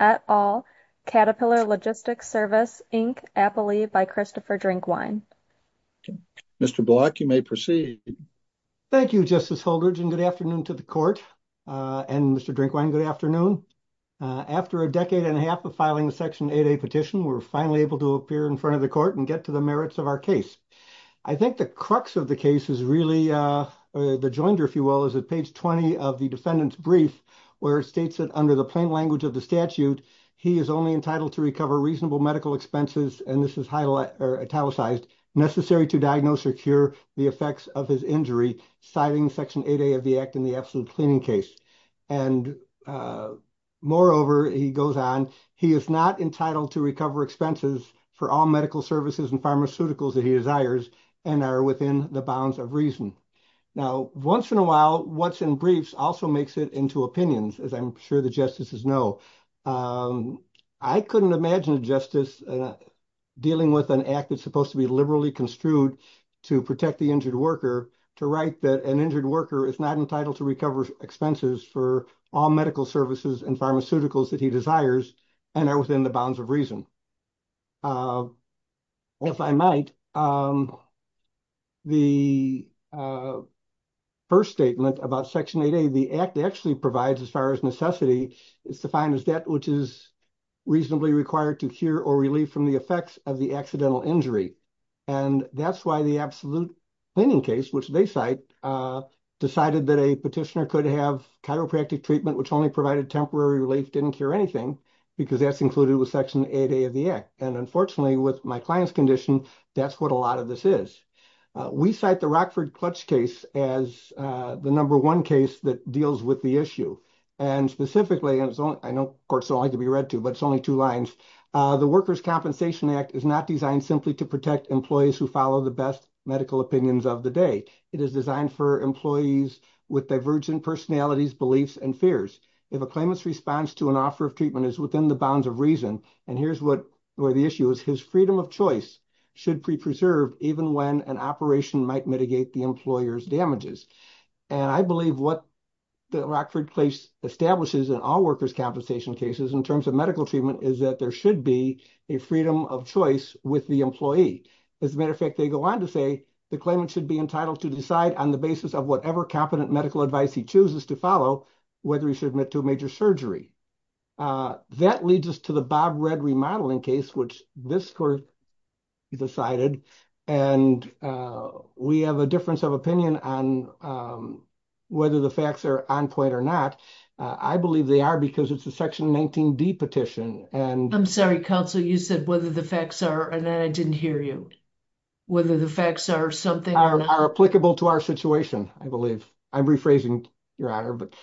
at All, Caterpillar Logistics Service, Inc., Appley, by Christopher Drinkwine. Mr. Block, you may proceed. Thank you, Justice Holdredge, and good afternoon to the Court. And, Mr. Drinkwine, good afternoon. After a decade and a half of filing the Section 8A petition, we're finally able to appear before the Supreme Court. and get to the merits of our case. I think the crux of the case is really, the joinder, if you will, is at page 20 of the defendant's brief, where it states that, under the plain language of the statute, he is only entitled to recover reasonable medical expenses, and this is italicized, necessary to diagnose or cure the effects of his injury, citing Section 8A of the Act in the absolute cleaning case. And, moreover, he goes on, he is not entitled to recover expenses for all medical services and pharmaceuticals that he desires and are within the bounds of reason. Now, once in a while, what's in briefs also makes it into opinions, as I'm sure the justices know. I couldn't imagine a justice dealing with an act that's supposed to be liberally construed to protect the injured worker to write that an injured worker is not entitled to recover expenses for all medical services and pharmaceuticals that he desires and are within the bounds of reason. If I might, the first statement about Section 8A, the Act actually provides, as far as necessity, it's defined as that which is reasonably required to cure or relieve from the effects of the accidental injury. And that's why the absolute cleaning case, which they cite, decided that a petitioner could have chiropractic treatment, which only provided temporary relief, didn't cure anything, because that's included with Section 8A of the Act. And, unfortunately, with my client's condition, that's what a lot of this is. We cite the Rockford Clutch case as the number one case that deals with the issue. And specifically, and I know courts don't like to be read to, but it's only two lines, the Workers' Compensation Act is not designed simply to protect employees who follow the best medical opinions of the day. It is designed for employees with divergent personalities, beliefs, and fears. If a claimant's response to an offer of treatment is within the bounds of reason, and here's where the issue is, his freedom of choice should be preserved even when an operation might mitigate the employer's damages. And I believe what the Rockford case establishes in all workers' compensation cases, in terms of medical treatment, is that there should be a freedom of choice with the employee. As a matter of fact, they go on to say the claimant should be entitled to decide on the basis of whatever competent medical advice he chooses to follow, whether he should admit to a major surgery. That leads us to the Bob Red remodeling case, which this court decided, and we have a difference of opinion on whether the facts are on point or not. I believe they are because it's a Section 19D petition. I'm sorry, Counsel, you said whether the facts are, and then I didn't hear you. Whether the facts are something or not. Are applicable to our situation, I believe. I'm rephrasing, Your Honor, but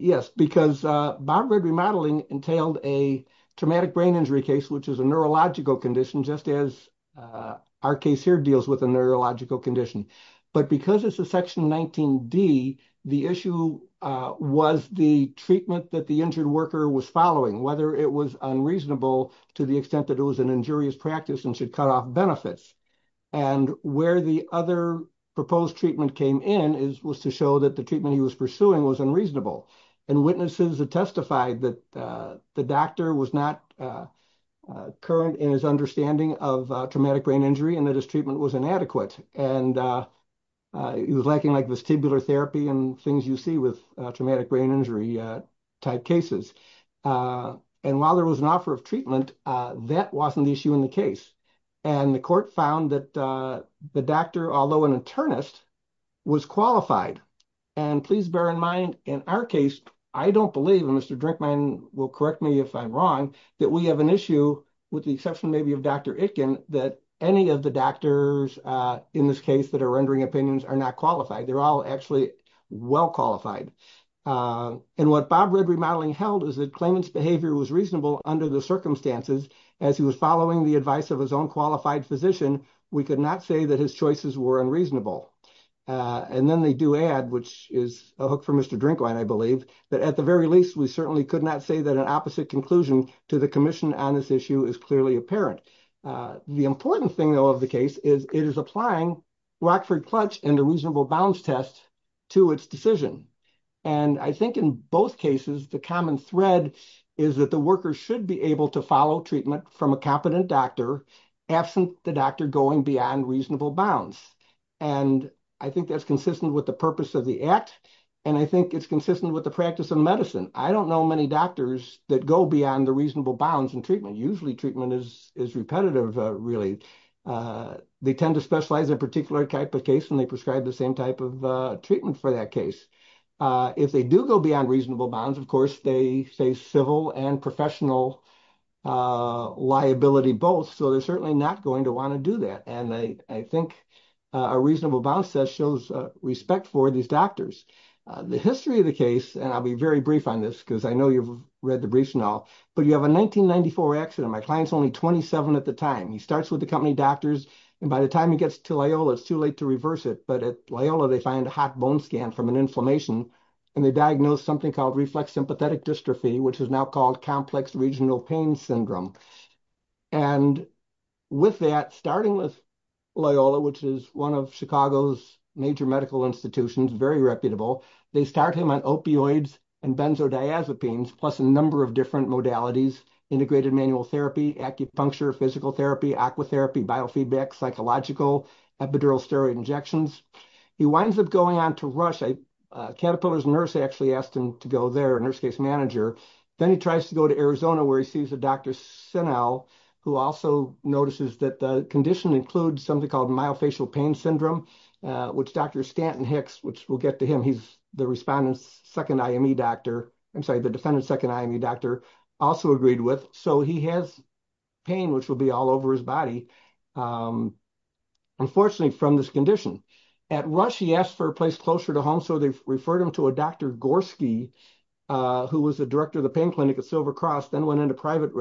yes, because Bob Red remodeling entailed a traumatic brain injury case, which is a neurological condition, just as our case here deals with a neurological condition. But because it's a Section 19D, the issue was the treatment that the injured worker was following, whether it was unreasonable to the extent that it was an injurious practice and should cut off benefits. And where the other proposed treatment came in was to show that the treatment he was pursuing was unreasonable. And witnesses have testified that the doctor was not current in his understanding of traumatic brain injury and that his treatment was inadequate. And he was lacking like vestibular therapy and things you see with traumatic brain injury type cases. And while there was an offer of treatment, that wasn't the issue in the case. And the court found that the doctor, although an internist, was qualified. And please bear in mind, in our case, I don't believe, and Mr. Drinkman will correct me if I'm wrong, that we have an issue, with the exception maybe of Dr. Itkin, that any of the doctors in this case that are rendering opinions are not qualified. They're all actually well qualified. And what Bob Red Re-modeling held is that claimant's behavior was reasonable under the circumstances. As he was following the advice of his own qualified physician, we could not say that his choices were unreasonable. And then they do add, which is a hook for Mr. Drinkman, I believe, that at the very least, we certainly could not say that an opposite conclusion to the commission on this issue is clearly apparent. The important thing, though, of the case is it is applying Rockford-Clutch and a reasonable bounds test to its decision. And I think in both cases, the common thread is that the worker should be able to follow treatment from a competent doctor, absent the doctor going beyond reasonable bounds. And I think that's consistent with the purpose of the act. And I think it's consistent with the practice of medicine. I don't know many doctors that go beyond the reasonable bounds in treatment. Usually treatment is repetitive, really. They tend to specialize in a particular type of case and they prescribe the same type of treatment for that case. If they do go beyond reasonable bounds, of course, they face civil and professional liability both. So they're certainly not going to want to do that. And I think a reasonable bounds test shows respect for these doctors. The history of the case, and I'll be very brief on this because I know you've read the briefs now, but you have a 1994 accident. My client's only 27 at the time. He starts with the company doctors, and by the time he gets to Loyola, it's too late to reverse it. But at Loyola, they find a hot bone scan from an inflammation, and they diagnose something called reflex sympathetic dystrophy, which is now called complex regional pain syndrome. And with that, starting with Loyola, which is one of Chicago's major medical institutions, very reputable, they start him on opioids and benzodiazepines, plus a number of different modalities, integrated manual therapy, acupuncture, physical therapy, aqua therapy, biofeedback, psychological, epidural steroid injections. He winds up going on to Rush. A Caterpillar's nurse actually asked him to go there, a nurse case manager. Then he tries to go to Arizona, where he sees a Dr. Sinel, who also notices that the condition includes something called myofascial pain syndrome, which Dr. Stanton Hicks, which we'll get to him, he's the defendant's second IME doctor, also agreed with. So he has pain, which will be all over his body, unfortunately, from this condition. At Rush, he asked for a place closer to home, so they referred him to a Dr. Gorski, who was the director of the pain clinic at Silver Cross, then went into private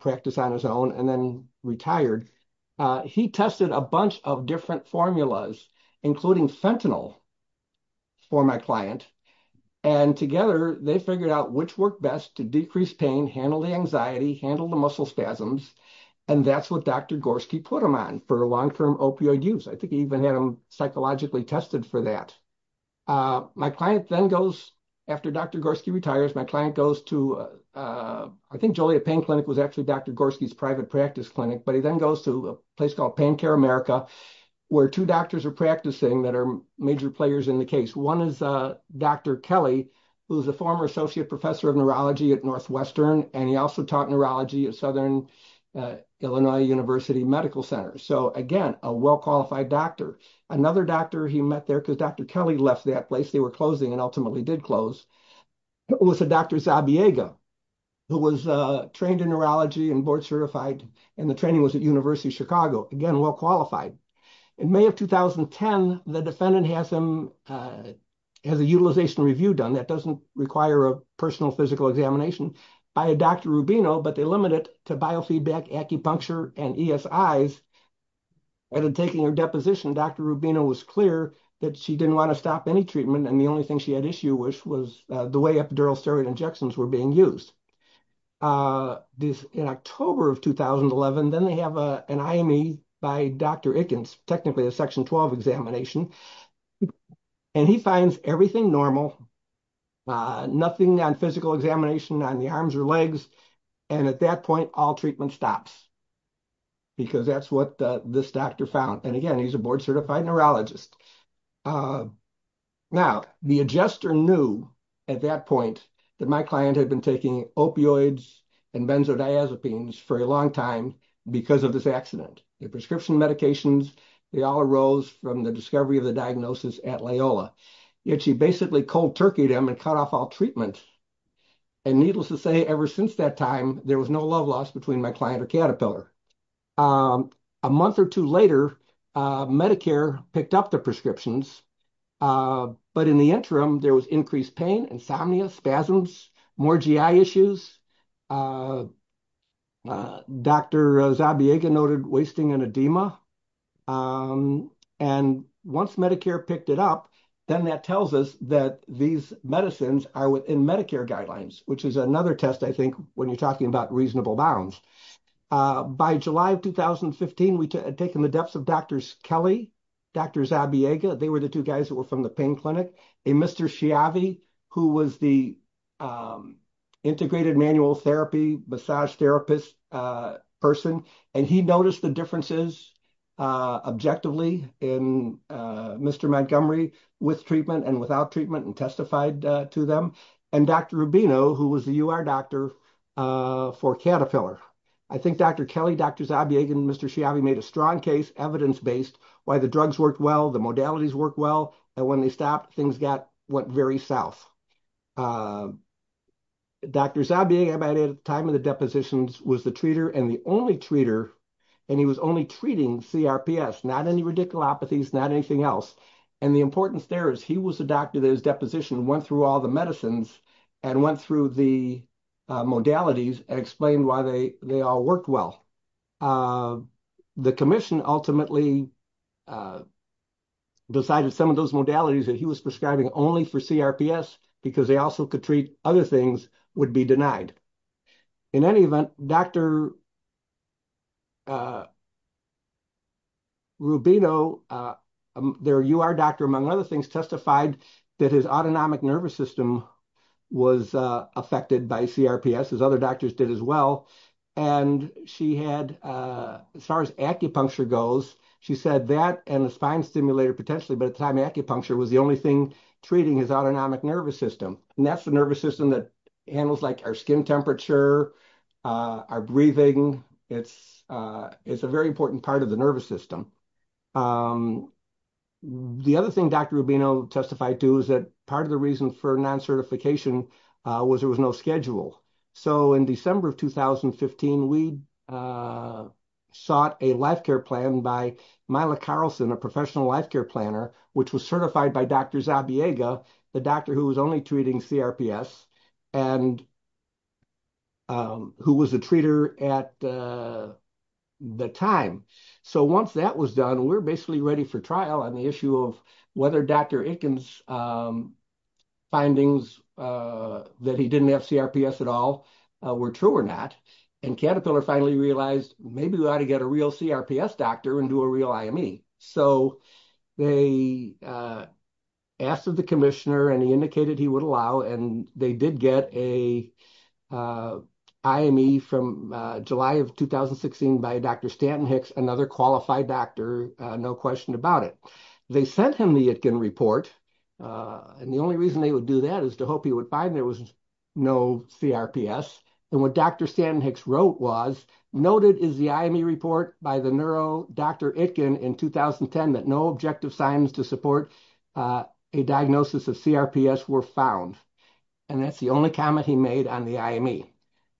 practice on his own, and then retired. He tested a bunch of different formulas, including fentanyl for my client, and together they figured out which worked best to decrease pain, handle the anxiety, handle the muscle spasms, and that's what Dr. Gorski put him on for long-term opioid use. I think he even had him psychologically tested for that. My client then goes, after Dr. Gorski retires, my client goes to, I think Joliet Pain Clinic was actually Dr. Gorski's private practice clinic, but he then goes to a place called Pain Care America, where two doctors are practicing that are major players in the case. One is Dr. Kelly, who is a former associate professor of neurology at Northwestern, and he also taught neurology at Southern Illinois University Medical Center. So again, a well-qualified doctor. Another doctor he met there, because Dr. Kelly left that place, they were closing and ultimately did close, was Dr. Zabiega, who was trained in neurology and board-certified, and the training was at University of Chicago. Again, well-qualified. In May of 2010, the defendant has a utilization review done. That doesn't require a personal physical examination by Dr. Rubino, but they limit it to biofeedback, acupuncture, and ESIs. After taking her deposition, Dr. Rubino was clear that she didn't want to stop any treatment, and the only thing she had issue with was the way epidural steroid injections were being used. In October of 2011, then they have an IME by Dr. Ickens, technically a Section 12 examination, and he finds everything normal, nothing on physical examination on the arms or legs, and at that point all treatment stops, because that's what this doctor found. And again, he's a board-certified neurologist. Now, the adjuster knew at that point that my client had been taking opioids and benzodiazepines for a long time because of this accident. The prescription medications, they all arose from the discovery of the diagnosis at Loyola. Yet she basically cold-turkeyed him and cut off all treatment. And needless to say, ever since that time, there was no love lost between my client or Caterpillar. A month or two later, Medicare picked up the prescriptions. But in the interim, there was increased pain, insomnia, spasms, more GI issues. Dr. Zabiega noted wasting and edema. And once Medicare picked it up, then that tells us that these medicines are within Medicare guidelines, which is another test, I think, when you're talking about reasonable bounds. By July of 2015, we had taken the depths of Drs. Kelly, Dr. Zabiega. They were the two guys who were from the pain clinic. And Mr. Schiavi, who was the integrated manual therapy, massage therapist person, and he noticed the differences objectively in Mr. Montgomery with treatment and without treatment and testified to them. And Dr. Rubino, who was the UR doctor for Caterpillar. I think Dr. Kelly, Dr. Zabiega, and Mr. Schiavi made a strong case, evidence-based, why the drugs worked well, the modalities worked well, and when they stopped, things went very south. Dr. Zabiega, by the time of the depositions, was the treater and the only treater, and he was only treating CRPS, not any radiculopathies, not anything else. And the importance there is he was the doctor that his deposition went through all the medicines and went through the modalities and explained why they all worked well. The commission ultimately decided some of those modalities that he was prescribing only for CRPS because they also could treat other things would be denied. In any event, Dr. Rubino, their UR doctor, among other things, testified that his autonomic nervous system was affected by CRPS, as other doctors did as well. And she had, as far as acupuncture goes, she said that and a spine stimulator potentially, but at the time acupuncture was the only thing treating his autonomic nervous system. And that's the nervous system that handles like our skin temperature, our breathing. It's a very important part of the nervous system. The other thing Dr. Rubino testified to is that part of the reason for non-certification was there was no schedule. So in December of 2015, we sought a life care plan by Myla Carlson, a professional life care planner, which was certified by Dr. Zabiega, the doctor who was only treating CRPS and who was a treater at the time. So once that was done, we're basically ready for trial on the issue of whether Dr. Itkin's findings that he didn't have CRPS at all were true or not. And Caterpillar finally realized maybe we ought to get a real CRPS doctor and do a real IME. So they asked of the commissioner and he indicated he would allow. And they did get a IME from July of 2016 by Dr. Stanton Hicks, another qualified doctor, no question about it. They sent him the Itkin report. And the only reason they would do that is to hope he would find there was no CRPS. And what Dr. Stanton Hicks wrote was, noted is the IME report by the neuro doctor Itkin in 2010 that no objective signs to support a diagnosis of CRPS were found. And that's the only comment he made on the IME.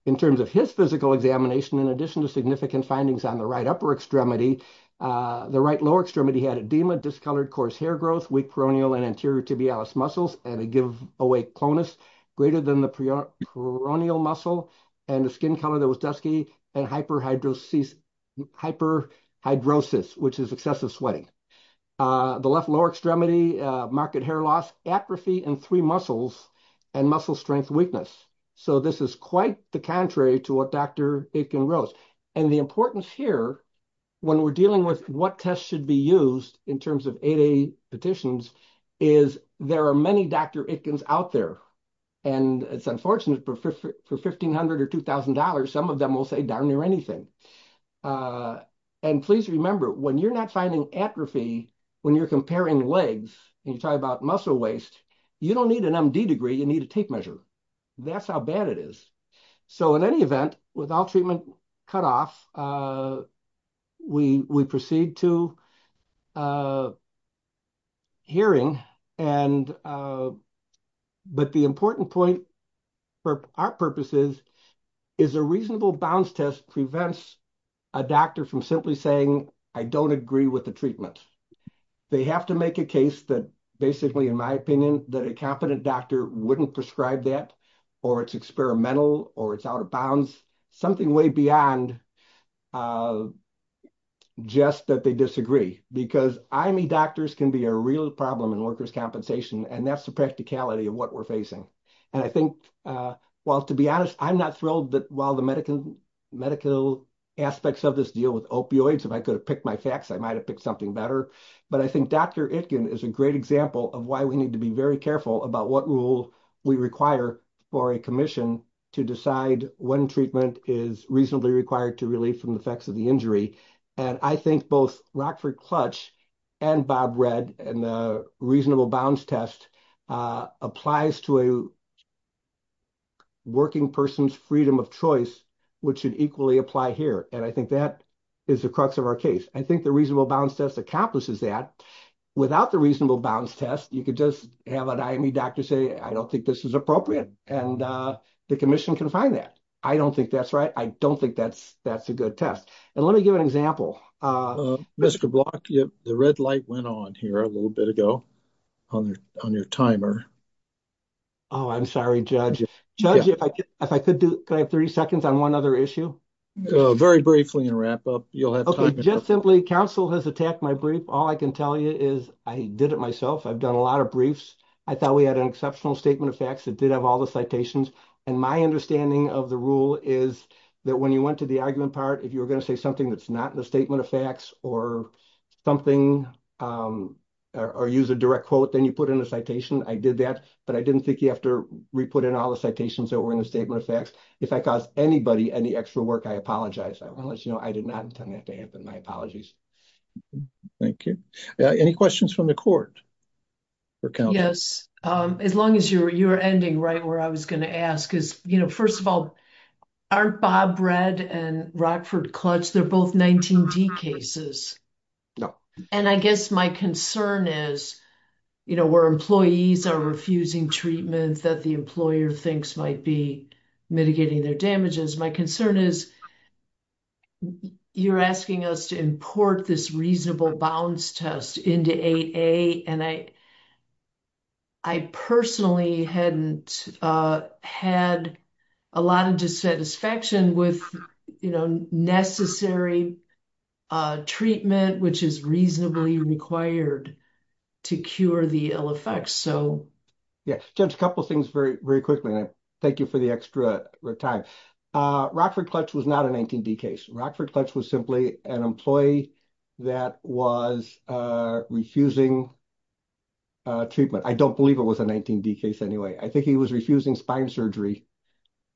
In terms of his physical examination, in addition to significant findings on the right upper extremity, the right lower extremity had edema, discolored coarse hair growth, weak peroneal and anterior tibialis muscles, and a give away clonus greater than the peroneal muscle and the skin color that was dusky and hyperhidrosis, which is excessive sweating. The left lower extremity marked hair loss, atrophy in three muscles and muscle strength weakness. So this is quite the contrary to what Dr. Itkin wrote. And the importance here, when we're dealing with what tests should be used in terms of ADA petitions, is there are many Dr. Itkins out there. And it's unfortunate for $1,500 or $2,000, some of them will say darn near anything. And please remember, when you're not finding atrophy, when you're comparing legs, and you talk about muscle waste, you don't need an MD degree, you need a tape measure. That's how bad it is. So in any event, with all treatment cut off, we proceed to hearing. But the important point for our purposes is a reasonable bounce test prevents a doctor from simply saying, I don't agree with the treatment. They have to make a case that basically, in my opinion, that a competent doctor wouldn't prescribe that, or it's experimental, or it's out of bounds, something way beyond just that they disagree. Because IME doctors can be a real problem in workers' compensation, and that's the practicality of what we're facing. And I think, well, to be honest, I'm not thrilled that while the medical aspects of this deal with opioids, if I could have picked my facts, I might have picked something better. But I think Dr. Itkin is a great example of why we need to be very careful about what rule we require for a commission to decide when treatment is reasonably required to relieve from the effects of the injury. And I think both Rockford Clutch and Bob Redd and the reasonable bounce test applies to a working person's freedom of choice, which should equally apply here. And I think that is the crux of our case. I think the reasonable bounce test accomplishes that. Without the reasonable bounce test, you could just have an IME doctor say, I don't think this is appropriate. And the commission can find that. I don't think that's right. I don't think that's a good test. And let me give an example. Mr. Block, the red light went on here a little bit ago on your timer. Oh, I'm sorry, Judge. Judge, if I could, could I have 30 seconds on one other issue? Very briefly and wrap up. You'll have time. Just simply, counsel has attacked my brief. All I can tell you is I did it myself. I've done a lot of briefs. I thought we had an exceptional statement of facts. It did have all the citations. And my understanding of the rule is that when you went to the argument part, if you were going to say something that's not in the statement of facts or something or use a direct quote, then you put in a citation. I did that. But I didn't think you have to re-put in all the citations that were in the statement of facts. If I caused anybody any extra work, I apologize. I want to let you know I did not intend that to happen. My apologies. Thank you. Any questions from the court? Yes. As long as you're ending right where I was going to ask. First of all, aren't Bob Redd and Rockford Clutch, they're both 19D cases? No. And I guess my concern is, you know, where employees are refusing treatment that the employer thinks might be mitigating their damages, my concern is you're asking us to import this reasonable bounds test into AA and I personally hadn't had a lot of dissatisfaction with, you know, necessary treatment, which is reasonably required to cure the ill effects. Yeah. Just a couple of things very, very quickly. Thank you for the extra time. Rockford Clutch was not a 19D case. Rockford Clutch was simply an employee that was refusing treatment. I don't believe it was a 19D case anyway. I think he was refusing spine surgery.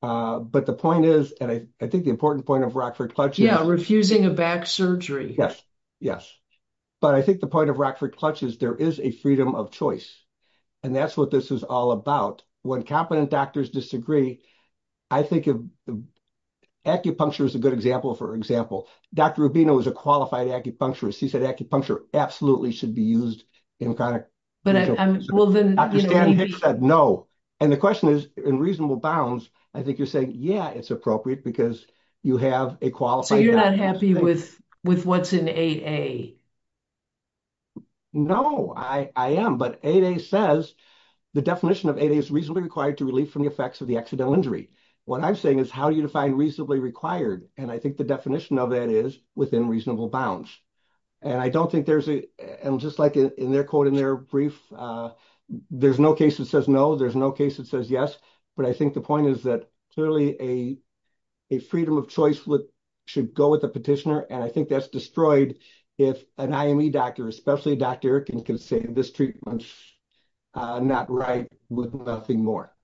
But the point is, and I think the important point of Rockford Clutch is. Yeah, refusing a back surgery. Yes. Yes. But I think the point of Rockford Clutch is there is a freedom of choice. And that's what this is all about. When competent doctors disagree, I think acupuncture is a good example, for example. Dr. Rubino was a qualified acupuncturist. He said acupuncture absolutely should be used. Dr. Stan Hicks said no. And the question is, in reasonable bounds, I think you're saying, yeah, it's appropriate because you have a qualified doctor. So you're not happy with what's in 8A? No, I am. But 8A says, the definition of 8A is reasonably required to relieve from the effects of the accidental injury. What I'm saying is how do you define reasonably required? And I think the definition of that is within reasonable bounds. And I don't think there's a, and just like in their quote in their brief, there's no case that says no. There's no case that says yes. But I think the point is that clearly a freedom of choice should go with the petitioner. And I think that's destroyed if an IME doctor, especially Dr. Erickson, can say this treatment's not right with nothing more.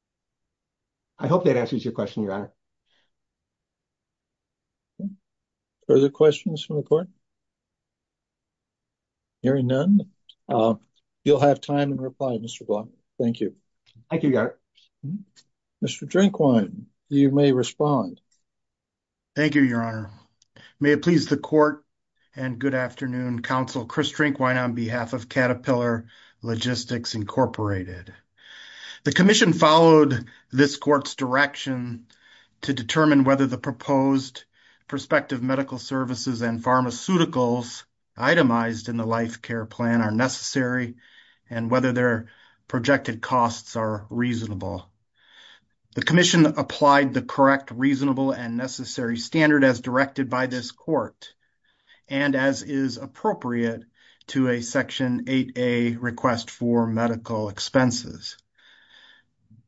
I hope that answers your question, Your Honor. Further questions from the court? Hearing none, you'll have time to reply, Mr. Blunt. Thank you. Thank you, Your Honor. Mr. Drinkwine, you may respond. Thank you, Your Honor. May it please the court and good afternoon. Counsel Chris Drinkwine on behalf of Caterpillar Logistics Incorporated. The commission followed this court's direction to determine whether the proposed prospective medical services and pharmaceuticals itemized in the life care plan are necessary and whether their projected costs are reasonable. The commission applied the correct, reasonable, and necessary standard as directed by this court, and as is appropriate to a Section 8A request for medical expenses.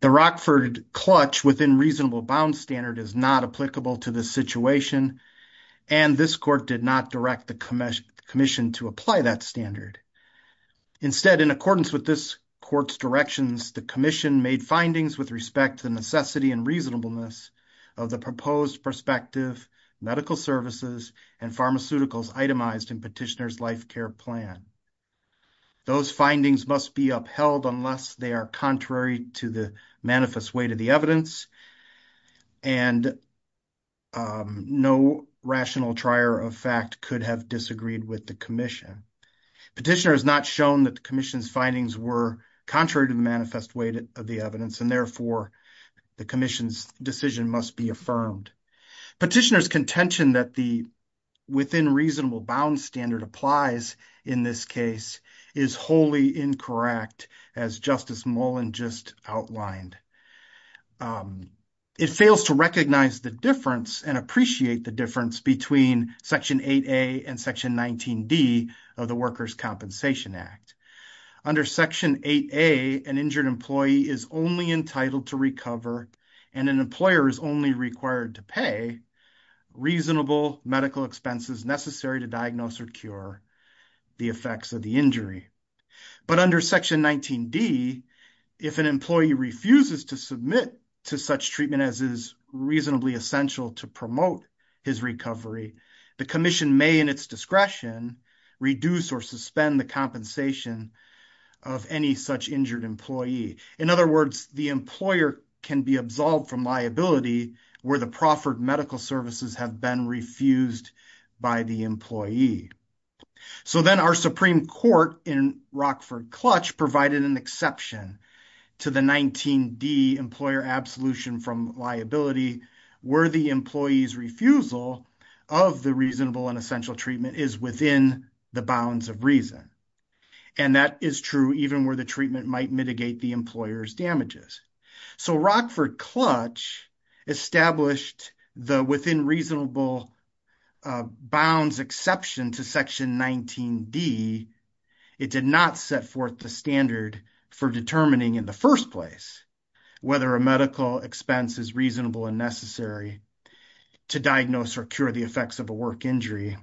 The Rockford clutch within reasonable bounds standard is not applicable to this situation, and this court did not direct the commission to apply that standard. Instead, in accordance with this court's directions, the commission made findings with respect to the necessity and reasonableness of the proposed prospective medical services and pharmaceuticals itemized in Petitioner's life care plan. Those findings must be upheld unless they are contrary to the manifest weight of the evidence, and no rational trier of fact could have disagreed with the commission. Petitioner has not shown that the commission's findings were contrary to the manifest weight of the evidence, and therefore the commission's decision must be affirmed. Petitioner's contention that the within reasonable bounds standard applies in this case is wholly incorrect, as Justice Mullen just outlined. It fails to recognize the difference and appreciate the difference between Section 8A and Section 19D of the Workers' Compensation Act. Under Section 8A, an injured employee is only entitled to recover, and an employer is only required to pay, reasonable medical expenses necessary to diagnose or cure the effects of the injury. But under Section 19D, if an employee refuses to submit to such treatment as is reasonably essential to promote his recovery, the commission may, in its discretion, reduce or suspend the compensation of any such injured employee. In other words, the employer can be absolved from liability where the proffered medical services have been refused by the employee. So then our Supreme Court in Rockford-Clutch provided an exception to the 19D employer absolution from liability where the employee's refusal of the reasonable and essential treatment is within the bounds of reason. And that is true even where the treatment might mitigate the employer's damages. So Rockford-Clutch established the within reasonable bounds exception to Section 19D. It did not set forth the standard for determining in the first place whether a medical expense is reasonable and necessary to diagnose or cure the effects of a work injury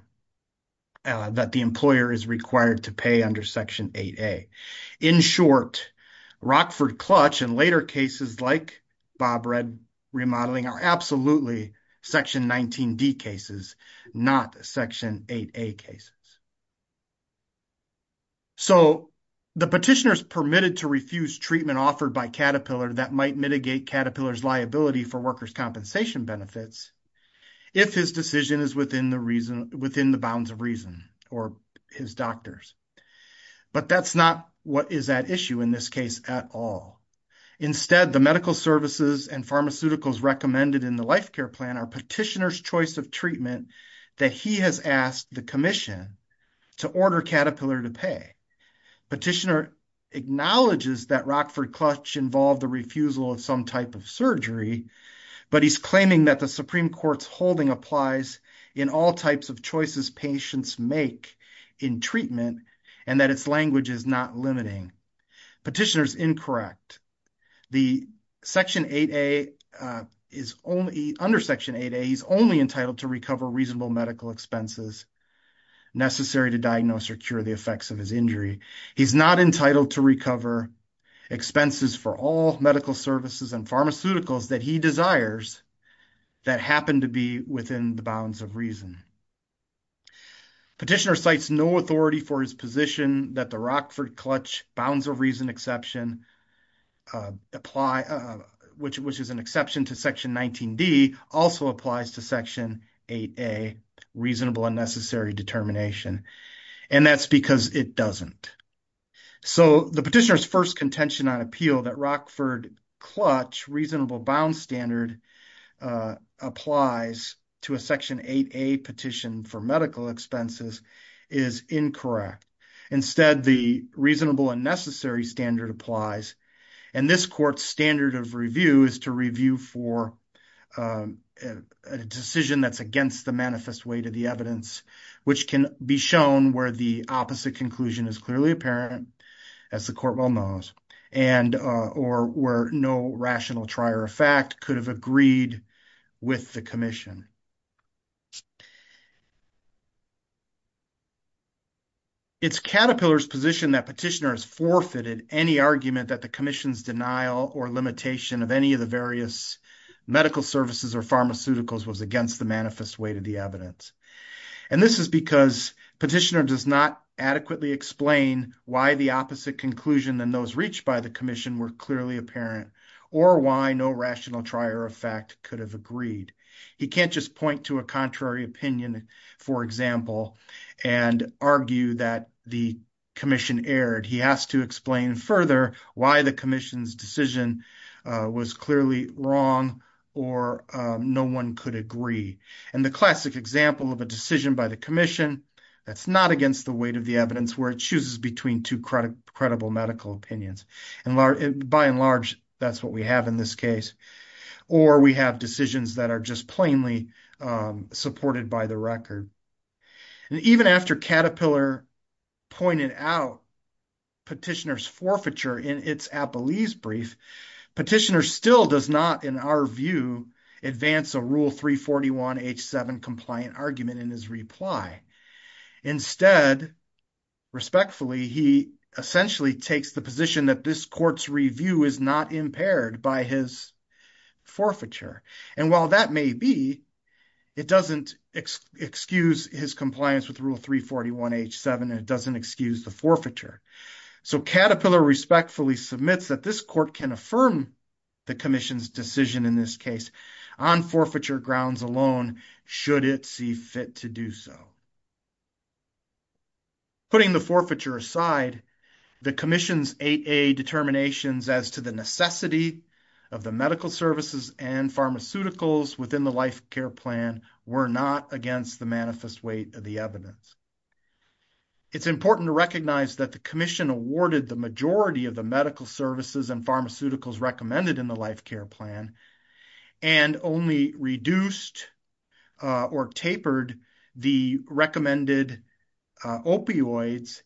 that the employer is required to pay under Section 8A. In short, Rockford-Clutch and later cases like Bob Red remodeling are absolutely Section 19D cases, not Section 8A cases. So the petitioner is permitted to refuse treatment offered by Caterpillar that might mitigate Caterpillar's liability for workers' compensation benefits if his decision is within the bounds of reason or his doctor's. But that's not what is at issue in this case at all. Instead, the medical services and pharmaceuticals recommended in the life care plan are petitioner's choice of treatment that he has asked the commission to order Caterpillar to pay. Petitioner acknowledges that Rockford-Clutch involved the refusal of some type of surgery, but he's claiming that the Supreme Court's holding applies in all types of choices patients make in treatment and that its language is not limiting. Petitioner's incorrect. Under Section 8A, he's only entitled to recover reasonable medical expenses necessary to diagnose or cure the effects of his injury. He's not entitled to recover expenses for all medical services and pharmaceuticals that he desires that happen to be within the bounds of reason. Petitioner cites no authority for his position that the Rockford-Clutch bounds of reason exception, which is an exception to Section 19D, also applies to Section 8A reasonable unnecessary determination. And that's because it doesn't. So the petitioner's first contention on appeal that Rockford-Clutch reasonable bound standard applies to a Section 8A petition for medical expenses is incorrect. Instead, the reasonable unnecessary standard applies. And this court's standard of review is to review for a decision that's against the manifest weight of the evidence, which can be shown where the opposite conclusion is clearly apparent, as the court well knows, and or where no rational trier of fact could have agreed with the commission. It's Caterpillar's position that petitioner has forfeited any argument that the commission's denial or limitation of any of the various medical services or pharmaceuticals was against the manifest weight of the evidence. And this is because petitioner does not adequately explain why the opposite conclusion than those reached by the commission were clearly apparent or why no rational trier of fact could have agreed. He can't just point to a contrary opinion, for example, and argue that the commission erred. He has to explain further why the commission's decision was clearly wrong or no one could agree. And the classic example of a decision by the commission that's not against the weight of the evidence where it chooses between two credible medical opinions. And by and large, that's what we have in this case. Or we have decisions that are just plainly supported by the record. And even after Caterpillar pointed out petitioner's forfeiture in its appellees brief, petitioner still does not, in our view, advance a rule 341 H7 compliant argument in his reply. Instead, respectfully, he essentially takes the position that this court's review is not impaired by his forfeiture. And while that may be, it doesn't excuse his compliance with rule 341 H7 and it doesn't excuse the forfeiture. So Caterpillar respectfully submits that this court can affirm the commission's decision in this case on forfeiture grounds alone, should it see fit to do so. Putting the forfeiture aside, the commission's 8A determinations as to the necessity of the medical services and pharmaceuticals within the life care plan were not against the manifest weight of the evidence. It's important to recognize that the commission awarded the majority of the medical services and pharmaceuticals recommended in the life care plan and only reduced or tapered the recommended opioids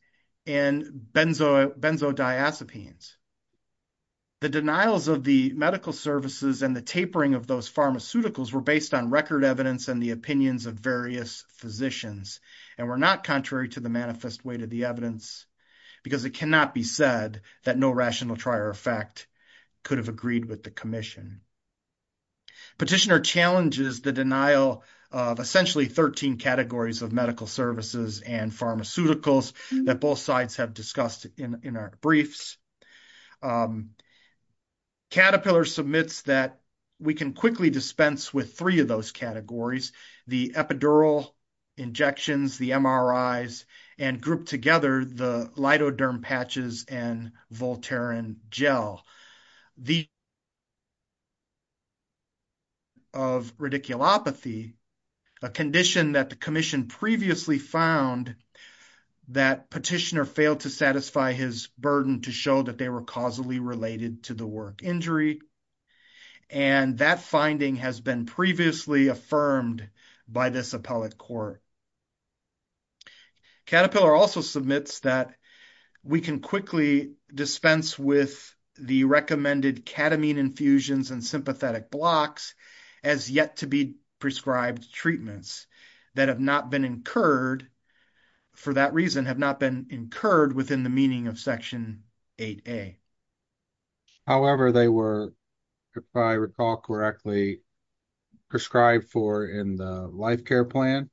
and benzodiazepines. The denials of the medical services and the tapering of those pharmaceuticals were based on record evidence and the opinions of various physicians and were not contrary to the manifest weight of the evidence because it cannot be said that no rational trier of fact could have agreed with the commission. Petitioner challenges the denial of essentially 13 categories of medical services and pharmaceuticals that both sides have discussed in our briefs. Caterpillar submits that we can quickly dispense with three of those categories, the epidural injections, the MRIs, and grouped together, the lidoderm patches and Voltaren gel. The of radiculopathy, a condition that the commission previously found that petitioner failed to satisfy his burden to show that they were causally related to the work injury and that finding has been previously affirmed by this appellate court. Caterpillar also submits that we can quickly dispense with the recommended catamine infusions and sympathetic blocks as yet to be prescribed treatments that have not been incurred, for that reason, have not been incurred within the meaning of Section 8A. However, they were, if I recall correctly, prescribed for in the life care plan.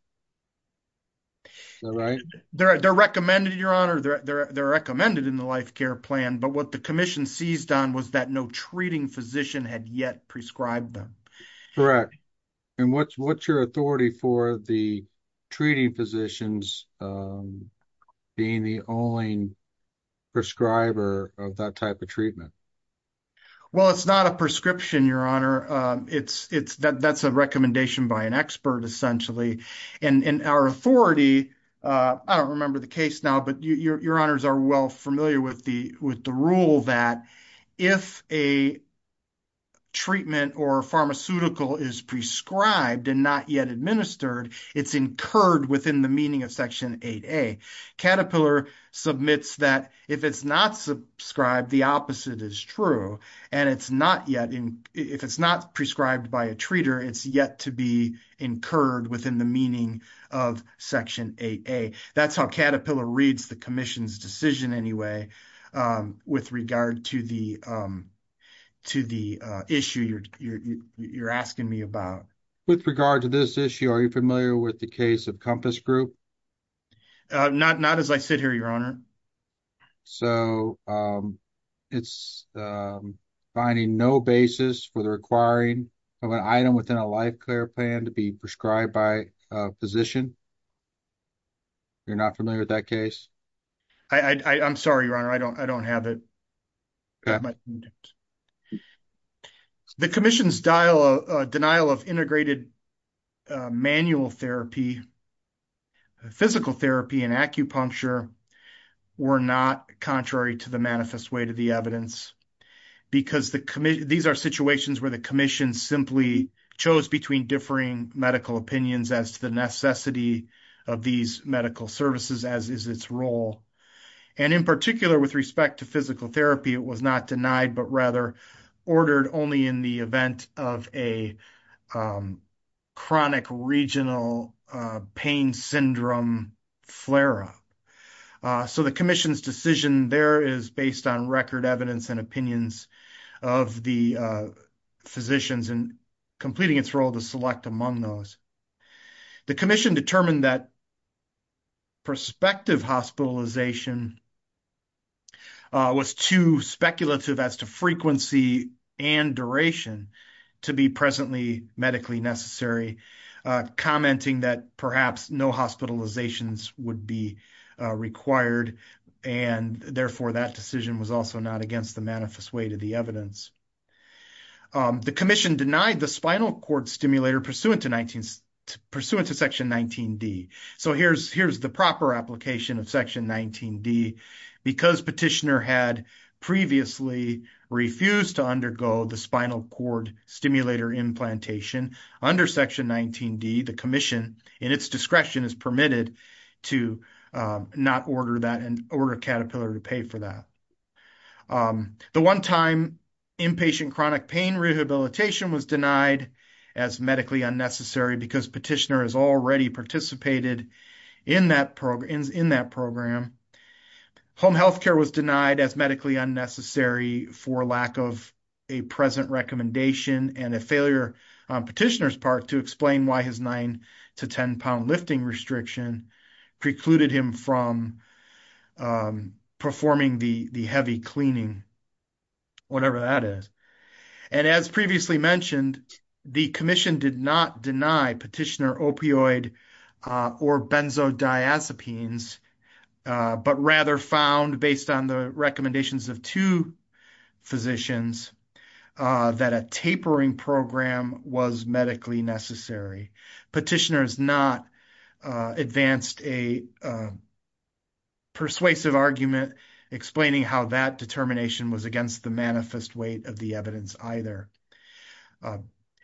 They're recommended in your honor, they're recommended in the life care plan, but what the commission seized on was that no treating physician had yet prescribed them. Correct. And what's your authority for the treating physicians being the only prescriber of that type of treatment? Well, it's not a prescription, your honor. That's a recommendation by an expert, essentially. And our authority, I don't remember the case now, but your honors are well familiar with the rule that if a treatment or pharmaceutical is prescribed and not yet administered, it's incurred within the meaning of Section 8A. Caterpillar submits that if it's not subscribed, the opposite is true. And it's not yet, if it's not prescribed by a treater, it's yet to be incurred within the meaning of Section 8A. That's how Caterpillar reads the commission's decision anyway, with regard to the issue you're asking me about. With regard to this issue, are you familiar with the case of Compass Group? Not as I sit here, your honor. So, it's finding no basis for the requiring of an item within a life care plan to be prescribed by a physician? You're not familiar with that case? I'm sorry, your honor, I don't have it. The commission's denial of integrated manual therapy, physical therapy and acupuncture were not contrary to the manifest way to the evidence. Because these are situations where the commission simply chose between differing medical opinions as to the necessity of these medical services as is its role. And in particular, with respect to physical therapy, it was not denied, but rather ordered only in the event of a chronic regional pain syndrome flare-up. So, the commission's decision there is based on record evidence and opinions of the physicians and completing its role to select among those. The commission determined that prospective hospitalization was too speculative as to frequency and duration to be presently medically necessary, commenting that perhaps no hospitalizations would be required. And therefore, that decision was also not against the manifest way to the evidence. The commission denied the spinal cord stimulator pursuant to section 19D. So, here's the proper application of section 19D. Because petitioner had previously refused to undergo the spinal cord stimulator implantation under section 19D, the commission in its discretion is permitted to not order that and order Caterpillar to pay for that. The one-time inpatient chronic pain rehabilitation was denied as medically unnecessary because petitioner has already participated in that program. Home health care was denied as medically unnecessary for lack of a present recommendation and a failure on petitioner's part to explain why his 9 to 10 pound lifting restriction precluded him from performing the heavy cleaning, whatever that is. And as previously mentioned, the commission did not deny petitioner opioid or benzodiazepines, but rather found based on the recommendations of two physicians that a tapering program was medically necessary. Petitioner has not advanced a persuasive argument explaining how that determination was against the manifest way of the evidence either.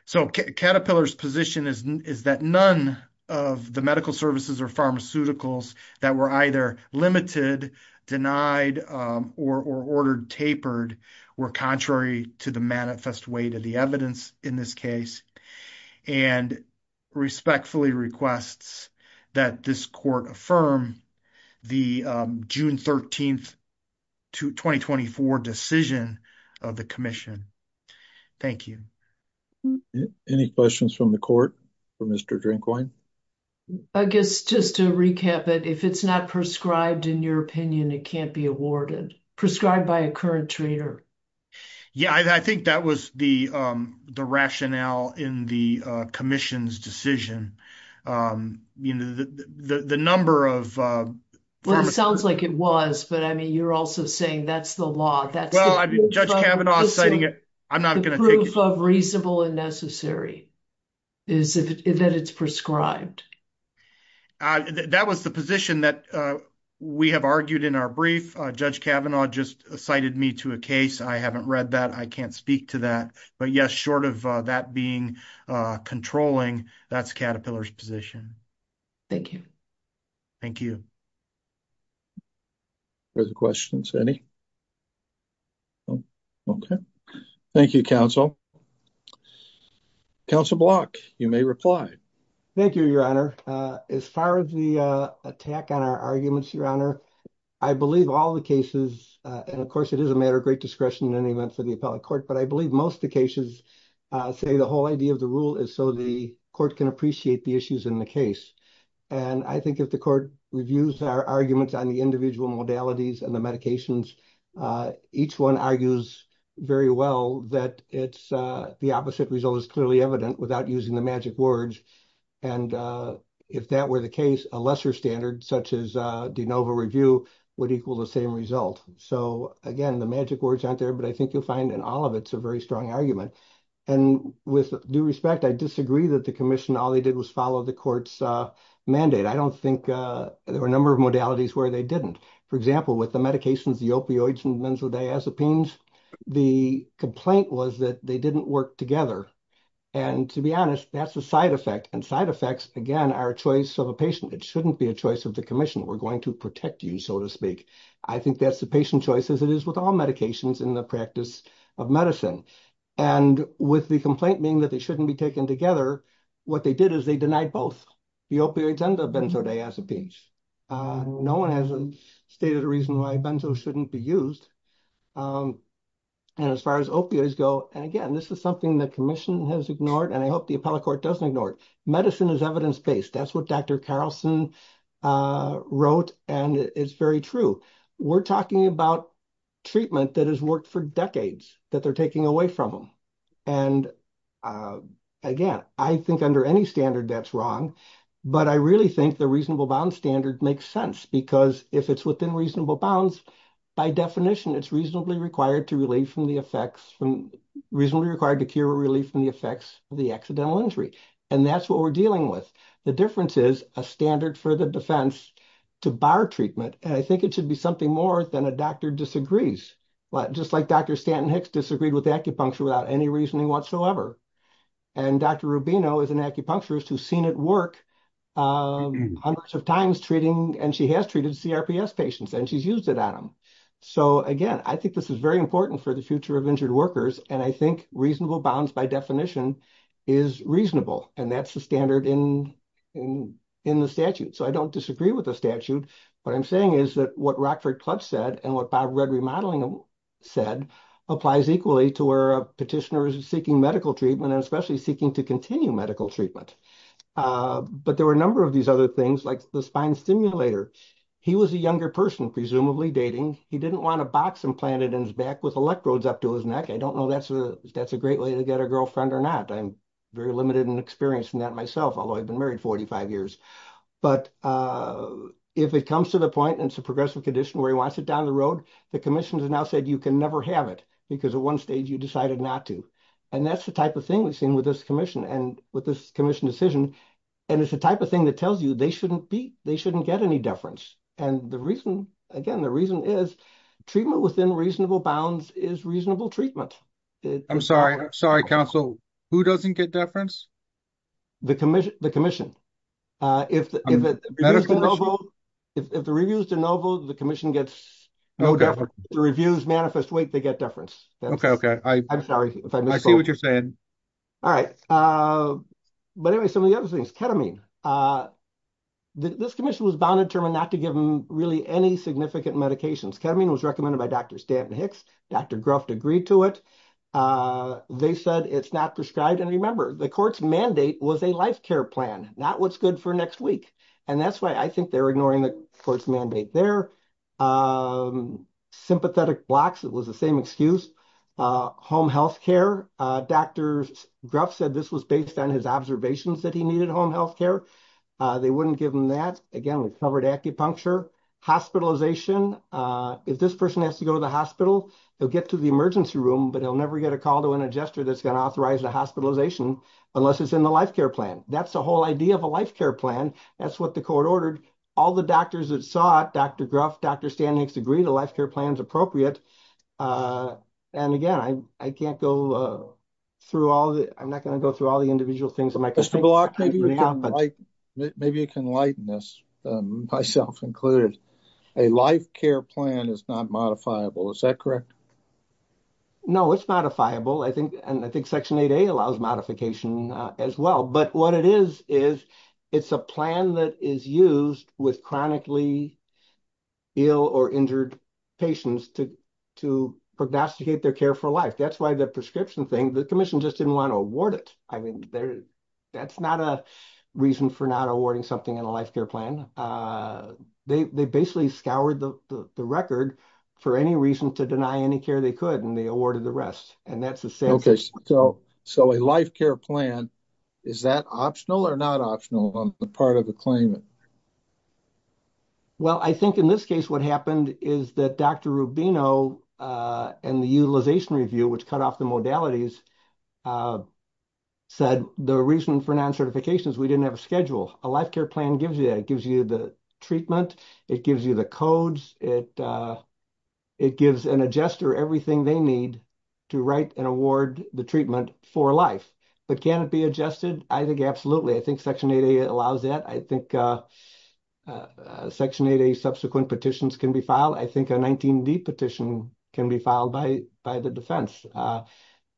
So, Caterpillar's position is that none of the medical services or pharmaceuticals that were either limited, denied, or ordered tapered were contrary to the manifest way to the evidence in this case. And respectfully requests that this court affirm the June 13th to 2024 decision of the commission. Thank you. Any questions from the court for Mr. Drinkwine? I guess just to recap it, if it's not prescribed in your opinion, it can't be awarded prescribed by a current trader. Yeah, I think that was the rationale in the commission's decision. You know, the number of. Well, it sounds like it was, but I mean, you're also saying that's the law that's. Judge Kavanaugh citing it. I'm not going to prove reasonable and necessary. Is that it's prescribed. That was the position that we have argued in our brief. Judge Kavanaugh just cited me to a case. I haven't read that. I can't speak to that. But, yes, short of that being controlling that's Caterpillar's position. Thank you. Thank you. For the questions any. Okay, thank you. Council. Council block. You may reply. Thank you, your honor. As far as the attack on our arguments, your honor. I believe all the cases and, of course, it is a matter of great discretion in any event for the appellate court, but I believe most the cases say the whole idea of the rule is so the court can appreciate the issues in the case. And I think if the court reviews our arguments on the individual modalities and the medications, each one argues very well that it's the opposite result is clearly evident without using the magic words. And if that were the case, a lesser standard, such as de novo review would equal the same result. So, again, the magic words aren't there, but I think you'll find in all of it's a very strong argument. And with due respect, I disagree that the commission all they did was follow the court's mandate. I don't think there were a number of modalities where they didn't. For example, with the medications, the opioids and benzodiazepines, the complaint was that they didn't work together. And to be honest, that's a side effect and side effects again, our choice of a patient. It shouldn't be a choice of the commission. We're going to protect you, so to speak. I think that's the patient choice as it is with all medications in the practice of medicine. And with the complaint being that they shouldn't be taken together, what they did is they denied both the opioids and the benzodiazepines. No one has stated a reason why benzo shouldn't be used. And as far as opioids go, and again, this is something that commission has ignored, and I hope the appellate court doesn't ignore it. That's what is evidence-based. That's what Dr. Carlson wrote, and it's very true. We're talking about treatment that has worked for decades, that they're taking away from them. And again, I think under any standard that's wrong, but I really think the reasonable bounds standard makes sense because if it's within reasonable bounds, by definition, it's reasonably required to cure or relieve from the effects of the accidental injury. And that's what we're dealing with. The difference is a standard for the defense to bar treatment, and I think it should be something more than a doctor disagrees. Just like Dr. Stanton-Hicks disagreed with acupuncture without any reasoning whatsoever. And Dr. Rubino is an acupuncturist who's seen it work hundreds of times treating, and she has treated CRPS patients, and she's used it on them. So again, I think this is very important for the future of injured workers, and I think reasonable bounds, by definition, is reasonable, and that's the standard in the statute. So I don't disagree with the statute. What I'm saying is that what Rockford Club said and what Bob Rudd Remodeling said applies equally to where a petitioner is seeking medical treatment and especially seeking to continue medical treatment. But there were a number of these other things like the spine stimulator. He was a younger person, presumably dating. He didn't want a box implanted in his back with electrodes up to his neck. I don't know if that's a great way to get a girlfriend or not. I'm very limited in experience in that myself, although I've been married 45 years. But if it comes to the point and it's a progressive condition where he wants it down the road, the commission has now said you can never have it because at one stage you decided not to. And that's the type of thing we've seen with this commission and with this commission decision, and it's the type of thing that tells you they shouldn't get any deference. And again, the reason is treatment within reasonable bounds is reasonable treatment. I'm sorry. I'm sorry, counsel. Who doesn't get deference? The commission. If the review is de novo, the commission gets no deference. If the review is manifest wait, they get deference. Okay. Okay. I'm sorry. I see what you're saying. All right. But anyway, some of the other things, ketamine. This commission was bound to determine not to give him really any significant medications. Ketamine was recommended by Dr. Stanton Hicks. Dr. Gruff agreed to it. They said it's not prescribed. And remember, the court's mandate was a life care plan, not what's good for next week. And that's why I think they're ignoring the court's mandate there. Sympathetic blocks. It was the same excuse. Home health care. Dr. Gruff said this was based on his observations that he needed home health care. They wouldn't give him that. Again, we covered acupuncture. Hospitalization. If this person has to go to the hospital, he'll get to the emergency room, but he'll never get a call to an adjuster that's going to authorize the hospitalization unless it's in the life care plan. That's the whole idea of a life care plan. That's what the court ordered. All the doctors that saw it, Dr. Gruff, Dr. Stanton Hicks agreed a life care plan is appropriate. And again, I can't go through all the, I'm not going to go through all the individual things. Mr. Block, maybe you can lighten this, myself included. A life care plan is not modifiable. Is that correct? No, it's modifiable. And I think Section 8A allows modification as well. But what it is, is it's a plan that is used with chronically ill or injured patients to prognosticate their care for life. That's why the prescription thing, the commission just didn't want to award it. I mean, that's not a reason for not awarding something in a life care plan. They basically scoured the record for any reason to deny any care they could, and they awarded the rest. And that's the same. So a life care plan, is that optional or not optional on the part of the claimant? Well, I think in this case, what happened is that Dr. Rubino and the utilization review, which cut off the modalities, said the reason for non-certifications, we didn't have a schedule. A life care plan gives you that. It gives you the treatment. It gives you the codes. It gives an adjuster everything they need to write and award the treatment for life. But can it be adjusted? I think absolutely. I think Section 8A allows that. I think Section 8A subsequent petitions can be filed. I think a 19D petition can be filed by the defense.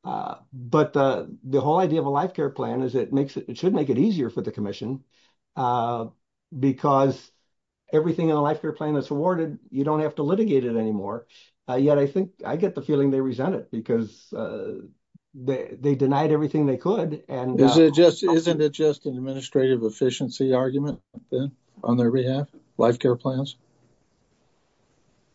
But the whole idea of a life care plan is it should make it easier for the commission because everything in the life care plan that's awarded, you don't have to litigate it anymore. Yet, I think I get the feeling they resent it because they denied everything they could. Isn't it just an administrative efficiency argument on their behalf, life care plans?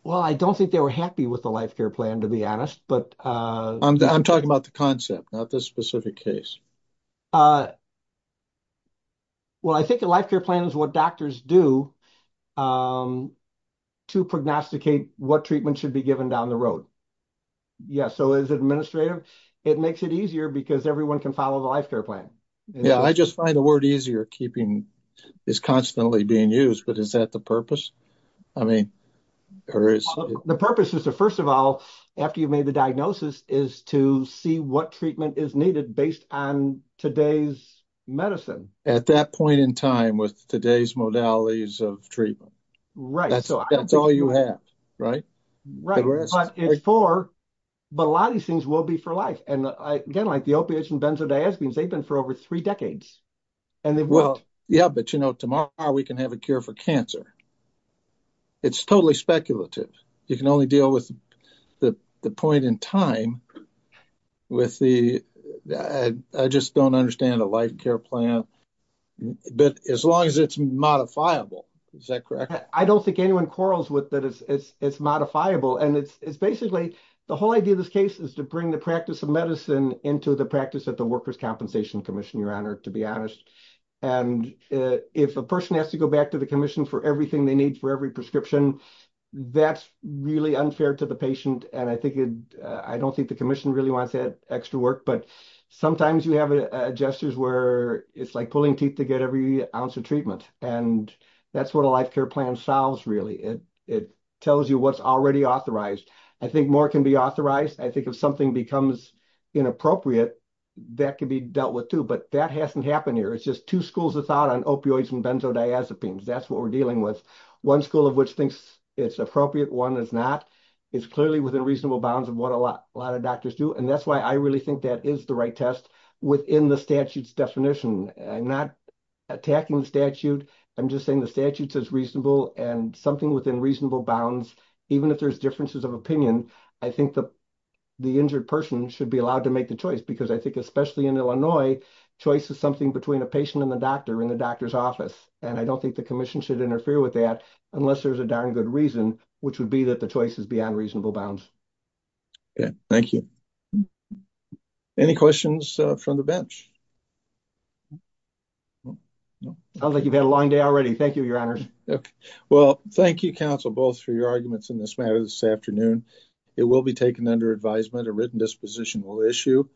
Well, I don't think they were happy with the life care plan, to be honest. I'm talking about the concept, not the specific case. Well, I think a life care plan is what doctors do to prognosticate what treatment should be given down the road. Yeah, so is it administrative? It makes it easier because everyone can follow the life care plan. Yeah, I just find the word easier, keeping, is constantly being used. But is that the purpose? I mean, or is... The purpose is to, first of all, after you've made the diagnosis, is to see what treatment is needed based on today's medicine. At that point in time with today's modalities of treatment. Right. That's all you have, right? Right, but a lot of these things will be for life. And again, like the opiates and benzodiazepines, they've been for over three decades. Well, yeah, but you know, tomorrow we can have a cure for cancer. It's totally speculative. You can only deal with the point in time with the, I just don't understand a life care plan. But as long as it's modifiable, is that correct? I don't think anyone quarrels with that it's modifiable. And it's basically, the whole idea of this case is to bring the practice of medicine into the practice of the Workers' Compensation Commission, Your Honor, to be honest. And if a person has to go back to the commission for everything they need for every prescription, that's really unfair to the patient. And I think it, I don't think the commission really wants that extra work. But sometimes you have gestures where it's like pulling teeth to get every ounce of treatment. And that's what a life care plan solves really. It tells you what's already authorized. I think more can be authorized. I think if something becomes inappropriate, that can be dealt with too. But that hasn't happened here. It's just two schools of thought on opioids and benzodiazepines. That's what we're dealing with. One school of which thinks it's appropriate, one is not. It's clearly within reasonable bounds of what a lot of doctors do. And that's why I really think that is the right test within the statute's definition. I'm not attacking the statute. I'm just saying the statute says reasonable and something within reasonable bounds. Even if there's differences of opinion, I think the injured person should be allowed to make the choice. Because I think especially in Illinois, choice is something between a patient and the doctor in the doctor's office. And I don't think the commission should interfere with that unless there's a darn good reason, which would be that the choice is beyond reasonable bounds. Thank you. Any questions from the bench? I don't think you've had a long day already. Thank you, Your Honor. Well, thank you, counsel, both for your arguments in this matter this afternoon. It will be taken under advisement. A written disposition will issue.